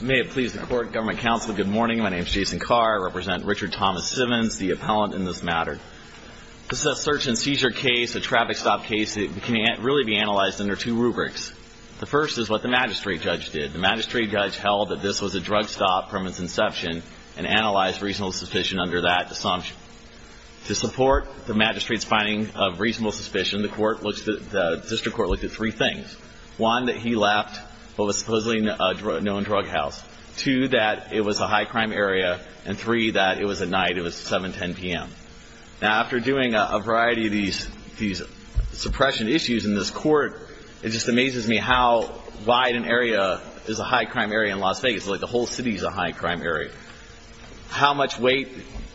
May it please the court, government, counsel, good morning. My name is Jason Carr. I represent Richard Thomas Simmons, the appellant in this matter. This is a search and seizure case, a traffic stop case that can really be analyzed under two rubrics. The first is what the magistrate judge did. The magistrate judge held that this was a drug stop from its inception and analyzed reasonable suspicion under that assumption. To support the magistrate's finding of reasonable suspicion, the district court looked at three things. One, that he left what was supposedly a known drug house. Two, that it was a high-crime area. And three, that it was at night. It was 7, 10 p.m. Now, after doing a variety of these suppression issues in this court, it just amazes me how wide an area is a high-crime area in Las Vegas. It's like the whole city is a high-crime area. How much weight,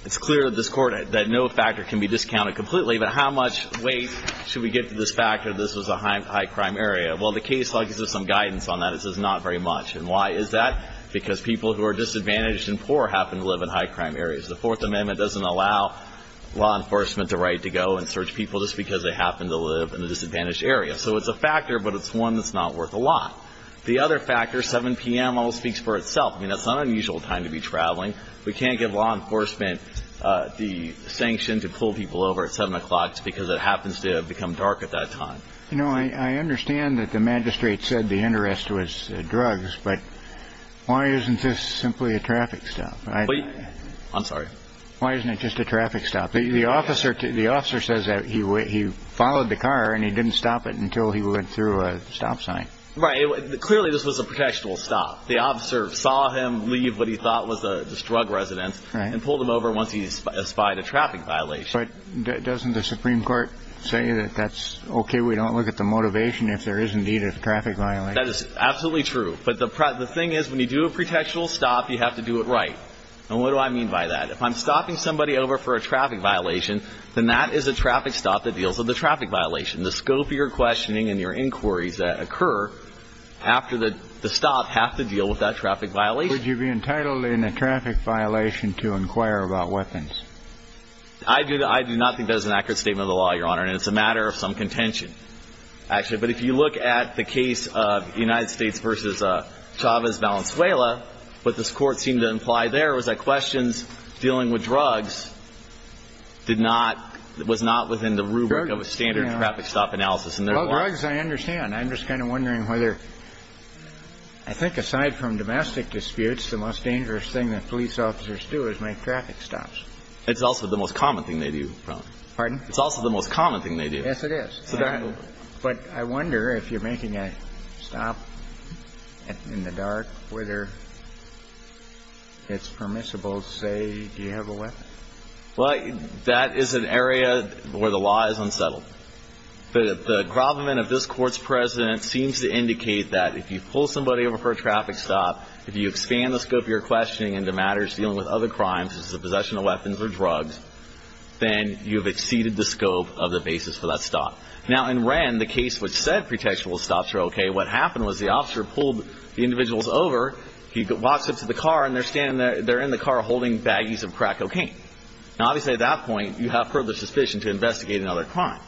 it's clear to this court that no factor can be discounted completely, but how much weight should we get to this factor that this was a high-crime area? Well, the case log gives us some guidance on that. It says not very much. And why is that? Because people who are disadvantaged and poor happen to live in high-crime areas. The Fourth Amendment doesn't allow law enforcement the right to go and search people just because they happen to live in a disadvantaged area. So it's a factor, but it's one that's not worth a lot. The other factor, 7 p.m. almost speaks for itself. I mean, that's not an unusual time to be traveling. We can't give law enforcement the sanction to pull people over at 7 o'clock because it happens to have become dark at that time. You know, I understand that the magistrate said the interest was drugs, but why isn't this simply a traffic stop? I'm sorry? Why isn't it just a traffic stop? The officer says that he followed the car and he didn't stop it until he went through a stop sign. Right. Clearly, this was a protectionist stop. The officer saw him leave what he thought was this drug residence and pulled him over once he had spied a traffic violation. But doesn't the Supreme Court say that that's okay we don't look at the motivation if there is indeed a traffic violation? That is absolutely true. But the thing is, when you do a protectionist stop, you have to do it right. And what do I mean by that? If I'm stopping somebody over for a traffic violation, then that is a traffic stop that deals with the traffic violation. The scope of your questioning and your inquiries that occur after the stop have to deal with that traffic violation. Would you be entitled in a traffic violation to inquire about weapons? I do not think that is an accurate statement of the law, Your Honor, and it's a matter of some contention, actually. But if you look at the case of United States v. Chavez-Valenzuela, what this Court seemed to imply there was that questions dealing with drugs was not within the rubric of a standard traffic stop analysis. Well, drugs I understand. I'm just kind of wondering whether, I think aside from domestic disputes, the most dangerous thing that police officers do is make traffic stops. It's also the most common thing they do, Your Honor. Pardon? It's also the most common thing they do. Yes, it is. But I wonder if you're making a stop in the dark, whether it's permissible to say, do you have a weapon? Well, that is an area where the law is unsettled. The gravamen of this Court's precedent seems to indicate that if you pull somebody over for a traffic stop, if you expand the scope of your questioning into matters dealing with other crimes, such as the possession of weapons or drugs, then you have exceeded the scope of the basis for that stop. Now, in Wren, the case which said pretextual stops are okay, what happened was the officer pulled the individuals over, he walks up to the car, and they're in the car holding baggies of crack cocaine. Now, obviously at that point, you have further suspicion to investigate another crime.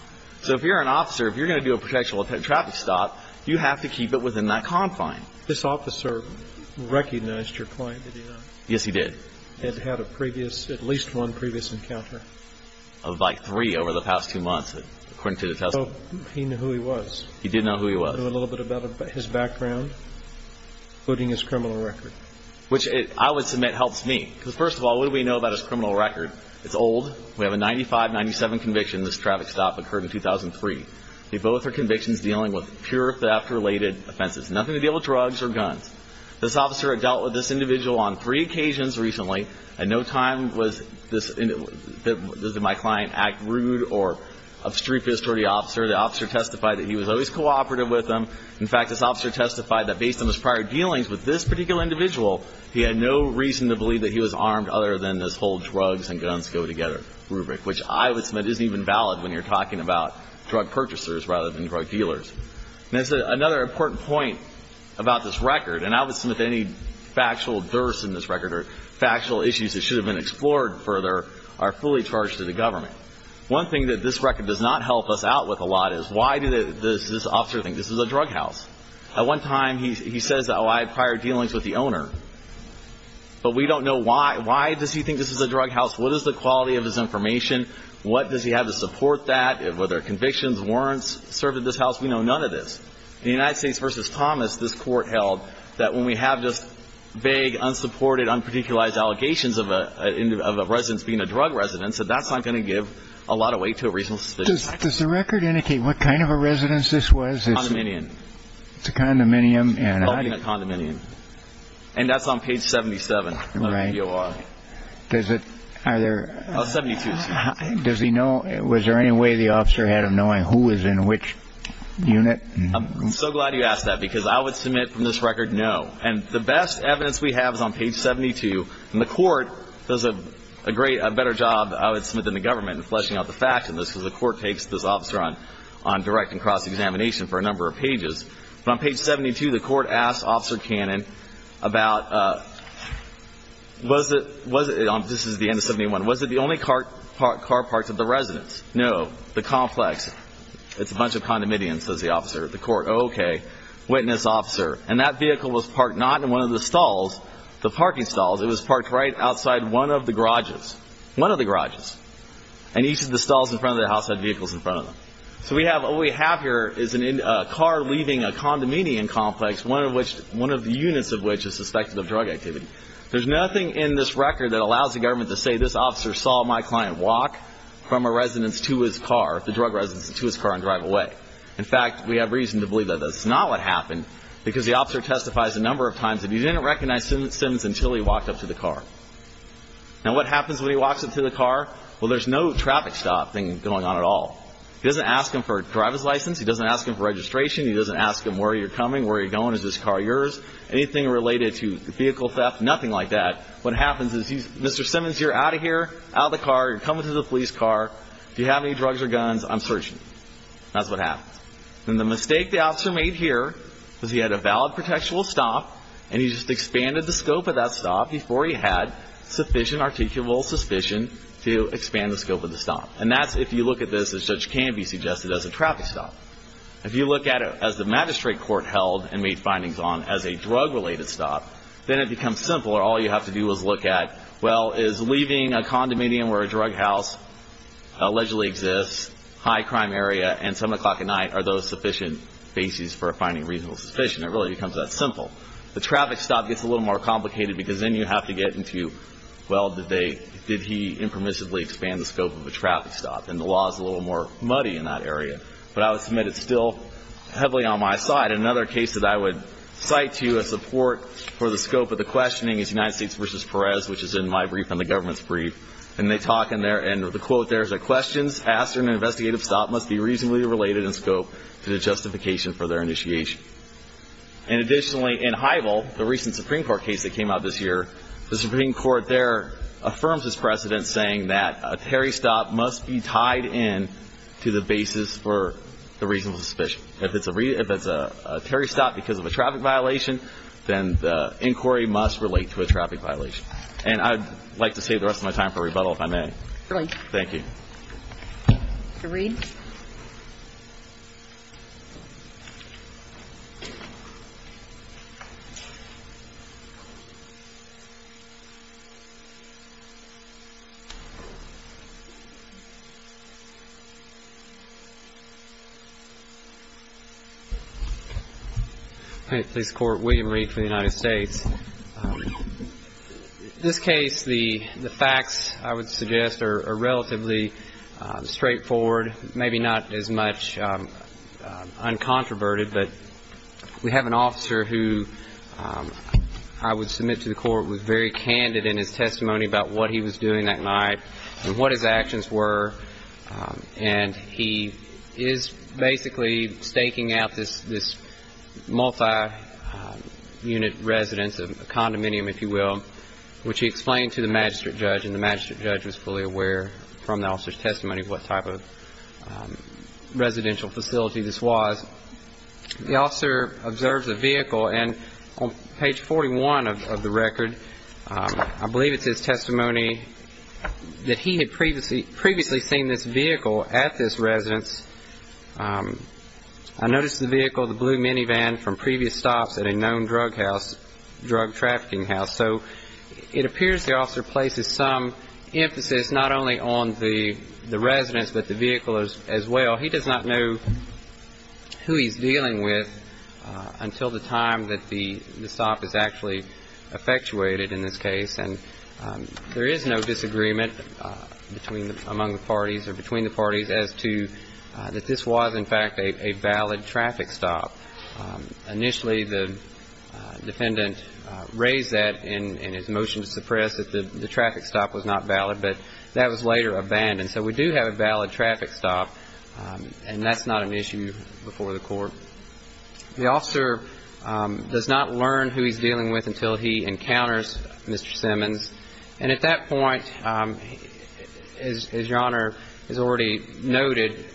So if you're an officer, if you're going to do a pretextual traffic stop, you have to keep it within that confine. This officer recognized your client, did he not? Yes, he did. Had had a previous, at least one previous encounter? Of like three over the past two months, according to the testimony. So he knew who he was? He did know who he was. Do you know a little bit about his background, including his criminal record? Which I would submit helps me. Because first of all, what do we know about his criminal record? It's old. We have a 95-97 conviction, this traffic stop occurred in 2003. They both are convictions dealing with pure theft-related offenses. Nothing to do with drugs or guns. This officer had dealt with this individual on three occasions recently, and no time was this, did my client act rude or obstreperous toward the officer. The officer testified that he was always cooperative with him. In fact, this officer testified that based on his prior dealings with this particular individual, he had no reason to believe that he was armed other than this whole drugs and guns go together rubric, which I would submit isn't even valid when you're talking about drug purchasers rather than drug dealers. And I said another important point about this record, and I would submit that any factual durst in this record or factual issues that should have been explored further are fully charged to the government. One thing that this record does not help us out with a lot is why does this officer think this is a drug house? At one time, he says, oh, I had prior dealings with the owner. But we don't know why. Why does he think this is a drug house? What is the quality of his information? What does he have to support that? Were there convictions, warrants served at this house? We know none of this. In the United States v. Thomas, this Court held that when we have this vague, unsupported, unparticularized allegations of a residence being a drug residence, that that's not going to give a lot of weight to a reasonable suspicion. Does the record indicate what kind of a residence this was? Condominium. It's a condominium. Oh, being a condominium. And that's on page 77 of the DOR. Right. Does it either? Oh, 72, excuse me. Does he know? Was there any way the officer had of knowing who was in which unit? I'm so glad you asked that because I would submit from this record no. And the best evidence we have is on page 72. And the Court does a better job, I would submit, than the government in fleshing out the facts in this because the Court takes this officer on direct and cross-examination for a number of pages. But on page 72, the Court asks Officer Cannon about, was it, this is the end of 71, was it the only car parked at the residence? No. The complex. It's a bunch of condominiums, says the officer. The Court, oh, okay. Witness, officer. And that vehicle was parked not in one of the stalls, the parking stalls. It was parked right outside one of the garages. One of the garages. And each of the stalls in front of the house had vehicles in front of them. So what we have here is a car leaving a condominium complex, one of the units of which is suspected of drug activity. There's nothing in this record that allows the government to say this officer saw my client walk from a residence to his car, the drug residence, to his car and drive away. In fact, we have reason to believe that that's not what happened because the officer testifies a number of times that he didn't recognize Simms until he walked up to the car. Now, what happens when he walks up to the car? Well, there's no traffic stop thing going on at all. He doesn't ask him for a driver's license. He doesn't ask him for registration. He doesn't ask him where you're coming, where you're going, is this car yours, anything related to vehicle theft, nothing like that. What happens is, Mr. Simmons, you're out of here, out of the car. You're coming to the police car. Do you have any drugs or guns? I'm searching you. That's what happens. And the mistake the officer made here was he had a valid protectional stop and he just expanded the scope of that stop before he had sufficient articulable suspicion to expand the scope of the stop. And that's if you look at this as such can be suggested as a traffic stop. If you look at it as the magistrate court held and made findings on as a drug-related stop, then it becomes simpler. All you have to do is look at, well, is leaving a condominium where a drug house allegedly exists, high crime area, and 7 o'clock at night, are those sufficient bases for finding reasonable suspicion? It really becomes that simple. The traffic stop gets a little more complicated because then you have to get into, well, did he impermissibly expand the scope of a traffic stop? And the law is a little more muddy in that area. But I would submit it's still heavily on my side. Another case that I would cite to as support for the scope of the questioning is United States v. Perez, which is in my brief and the government's brief. And they talk in there, and the quote there is, The questions asked in an investigative stop must be reasonably related in scope to the justification for their initiation. And additionally, in Heidel, the recent Supreme Court case that came out this year, the Supreme Court there affirms this precedent saying that a tarry stop must be tied in to the bases for the reasonable suspicion. If it's a tarry stop because of a traffic violation, then the inquiry must relate to a traffic violation. And I'd like to save the rest of my time for rebuttal, if I may. Thank you. Thank you. Mr. Reed. Police Court. William Reed for the United States. In this case, the facts, I would suggest, are relatively straightforward, maybe not as much uncontroverted. But we have an officer who I would submit to the court was very candid in his testimony about what he was doing that night and what his actions were. And he is basically staking out this multi-unit residence, a condominium, if you will, which he explained to the magistrate judge. And the magistrate judge was fully aware from the officer's testimony what type of residential facility this was. The officer observes a vehicle. And on page 41 of the record, I believe it's his testimony that he had previously seen this vehicle at this residence. I noticed the vehicle, the blue minivan, from previous stops at a known drug house, drug trafficking house. So it appears the officer places some emphasis not only on the residence but the vehicle as well. He does not know who he's dealing with until the time that the stop is actually effectuated in this case. And there is no disagreement among the parties or between the parties as to that this was, in fact, a valid traffic stop. Initially, the defendant raised that in his motion to suppress that the traffic stop was not valid, but that was later abandoned. So we do have a valid traffic stop, and that's not an issue before the court. The officer does not learn who he's dealing with until he encounters Mr. Simmons. And at that point, as Your Honor has already noted,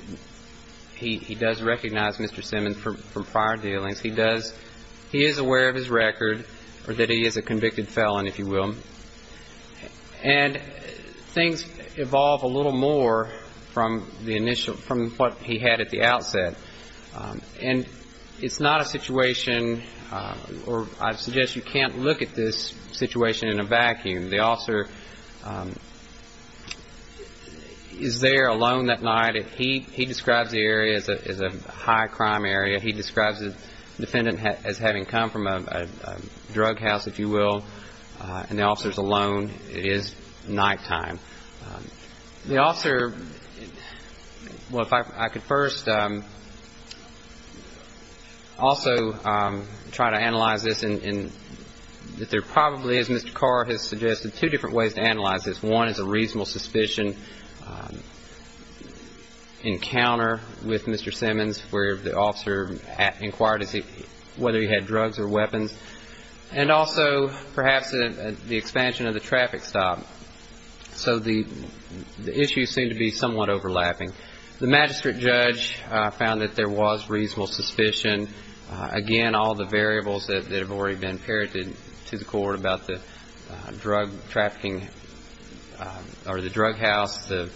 he does recognize Mr. Simmons from prior dealings. He does. He is aware of his record or that he is a convicted felon, if you will. And things evolve a little more from the initial, from what he had at the outset. And it's not a situation, or I suggest you can't look at this situation in a vacuum. The officer is there alone that night. He describes the area as a high-crime area. He describes the defendant as having come from a drug house, if you will. And the officer is alone. It is nighttime. The officer, well, if I could first also try to analyze this. And there probably is, as Mr. Carr has suggested, two different ways to analyze this. One is a reasonable suspicion encounter with Mr. Simmons where the officer inquired whether he had drugs or weapons. And also perhaps the expansion of the traffic stop. So the issues seem to be somewhat overlapping. The magistrate judge found that there was reasonable suspicion. Again, all the variables that have already been parroted to the court about the drug trafficking or the drug house, the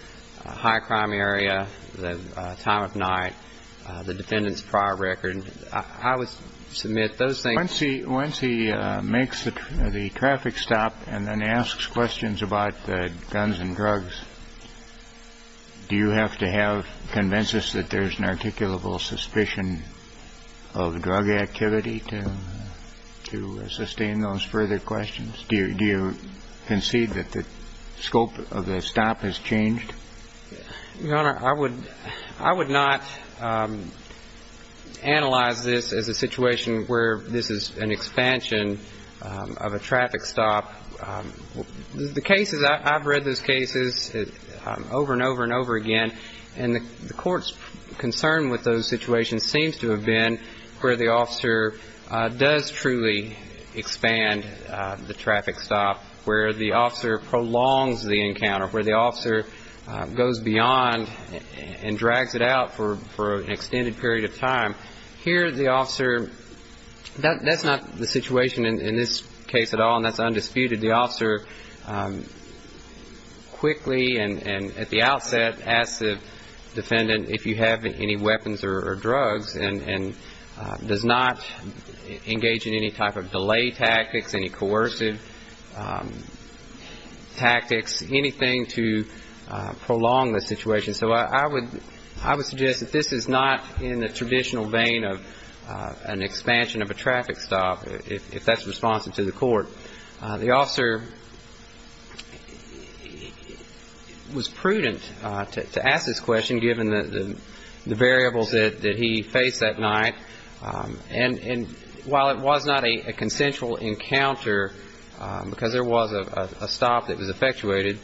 high-crime area, the time of night, the defendant's prior record. I would submit those things. Once he makes the traffic stop and then asks questions about guns and drugs, do you have to convince us that there's an articulable suspicion of drug activity to sustain those further questions? Do you concede that the scope of the stop has changed? Your Honor, I would not analyze this as a situation where this is an expansion of a traffic stop. The cases, I've read those cases over and over and over again, and the court's concern with those situations seems to have been where the officer does truly expand the traffic stop, where the officer prolongs the encounter, where the officer goes beyond and drags it out for an extended period of time. Here the officer, that's not the situation in this case at all, and that's undisputed. The officer quickly and at the outset asks the defendant if you have any weapons or drugs and does not engage in any type of delay tactics, any coercive tactics, anything to prolong the situation. So I would suggest that this is not in the traditional vein of an expansion of a traffic stop, if that's responsive to the court. The officer was prudent to ask this question, given the variables that he faced that night. And while it was not a consensual encounter, because there was a stop that was effectuated,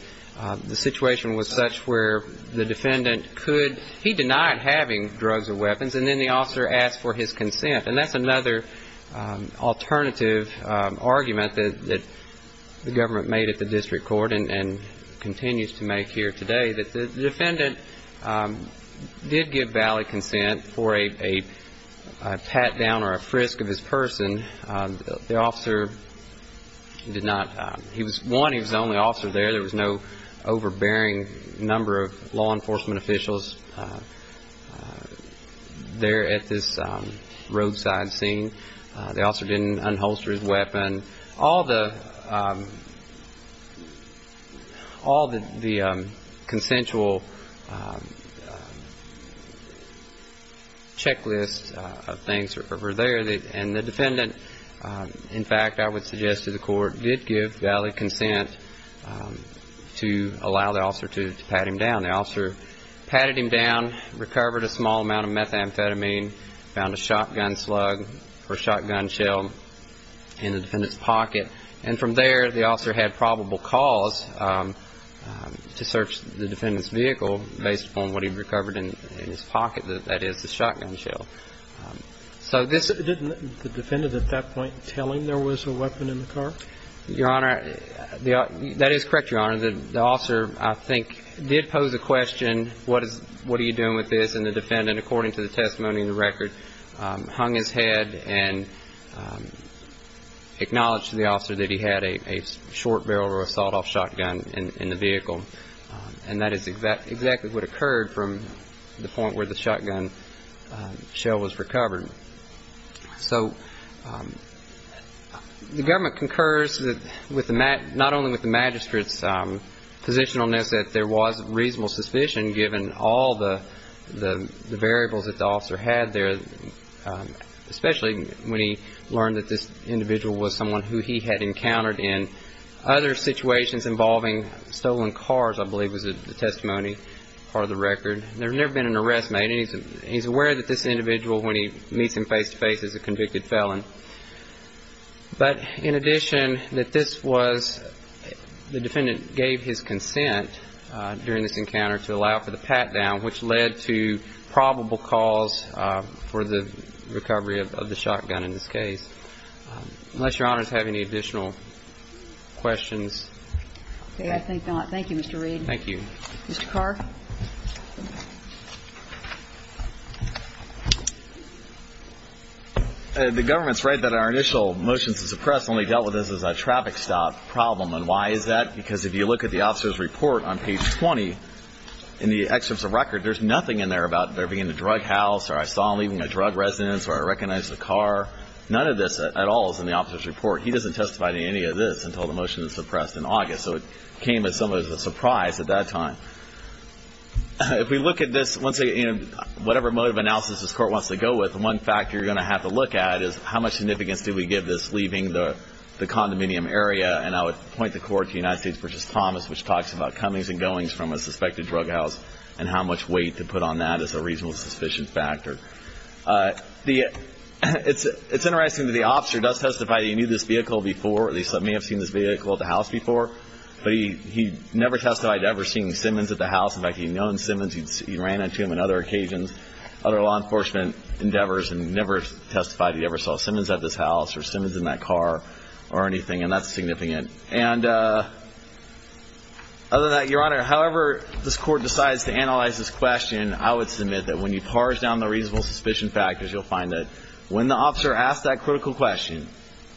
the situation was such where the defendant could, he denied having drugs or weapons, and then the officer asked for his consent. And that's another alternative argument that the government made at the district court and continues to make here today, that the defendant did give valid consent for a pat down or a frisk of his person. The officer did not, he was one, he was the only officer there. There was no overbearing number of law enforcement officials there at this roadside scene. The officer didn't unholster his weapon. All the consensual checklists of things were there, and the defendant, in fact, I would suggest to the court, did give valid consent to allow the officer to pat him down. The officer patted him down, recovered a small amount of methamphetamine, found a shotgun slug or shotgun shell in the defendant's pocket, and from there the officer had probable cause to search the defendant's vehicle based upon what he'd recovered in his pocket, that is, the shotgun shell. Didn't the defendant at that point tell him there was a weapon in the car? Your Honor, that is correct, Your Honor. The officer, I think, did pose a question, what are you doing with this? And the defendant, according to the testimony in the record, hung his head and acknowledged to the officer that he had a short barrel or a sawed-off shotgun in the vehicle. And that is exactly what occurred from the point where the shotgun shell was recovered. So the government concurs not only with the magistrate's position on this, that there was reasonable suspicion given all the variables that the officer had there, especially when he learned that this individual was someone who he had encountered in other situations involving stolen cars, I believe was the testimony part of the record. There had never been an arrest made, and he's aware that this individual, when he meets him face-to-face, is a convicted felon. But in addition, the defendant gave his consent during this encounter to allow for the pat-down, which led to probable cause for the recovery of the shotgun in this case. Unless Your Honors have any additional questions. Okay, I think not. Thank you, Mr. Reed. Thank you. Mr. Carr? The government's right that our initial motions to suppress only dealt with this as a traffic stop problem. And why is that? Because if you look at the officer's report on page 20, in the excerpts of record, there's nothing in there about there being a drug house or I saw him leaving a drug residence or I recognized the car. None of this at all is in the officer's report. He doesn't testify to any of this until the motion is suppressed in August. So it came as somewhat of a surprise at that time. If we look at this, once again, whatever mode of analysis this Court wants to go with, one factor you're going to have to look at is how much significance do we give this leaving the condominium area? And I would point the Court to United States v. Thomas, which talks about comings and goings from a suspected drug house and how much weight to put on that as a reasonable suspicion factor. It's interesting that the officer does testify that he knew this vehicle before, or at least may have seen this vehicle at the house before, but he never testified to ever seeing Simmons at the house. In fact, he'd known Simmons. He ran into him on other occasions, other law enforcement endeavors, and never testified he ever saw Simmons at this house or Simmons in that car or anything. And that's significant. And other than that, Your Honor, however this Court decides to analyze this question, I would submit that when you parse down the reasonable suspicion factors, you'll find that when the officer asked that critical question,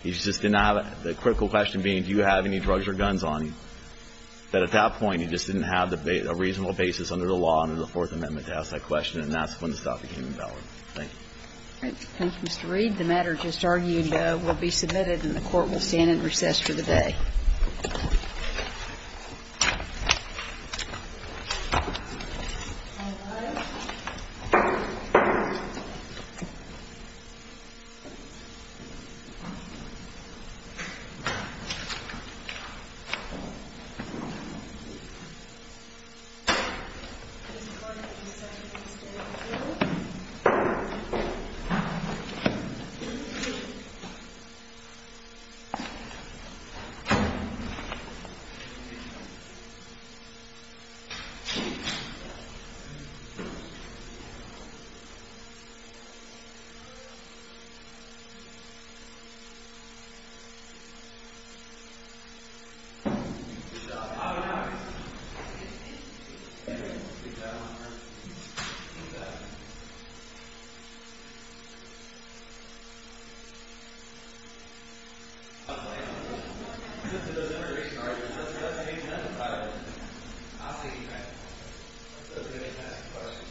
the critical question being do you have any drugs or guns on you, that at that point he just didn't have a reasonable basis under the law, under the Fourth Amendment, to ask that question, and that's when the stuff became invalid. Thank you. Thank you, Mr. Reed. The matter just argued will be submitted, and the Court will stand in recess for the day. Thank you, Your Honor. The evidence in this interrogation argument is that the defendant has a firearm. I'll say he has. The defendant has a firearm. The defendant has a gun. The defendant has a gun.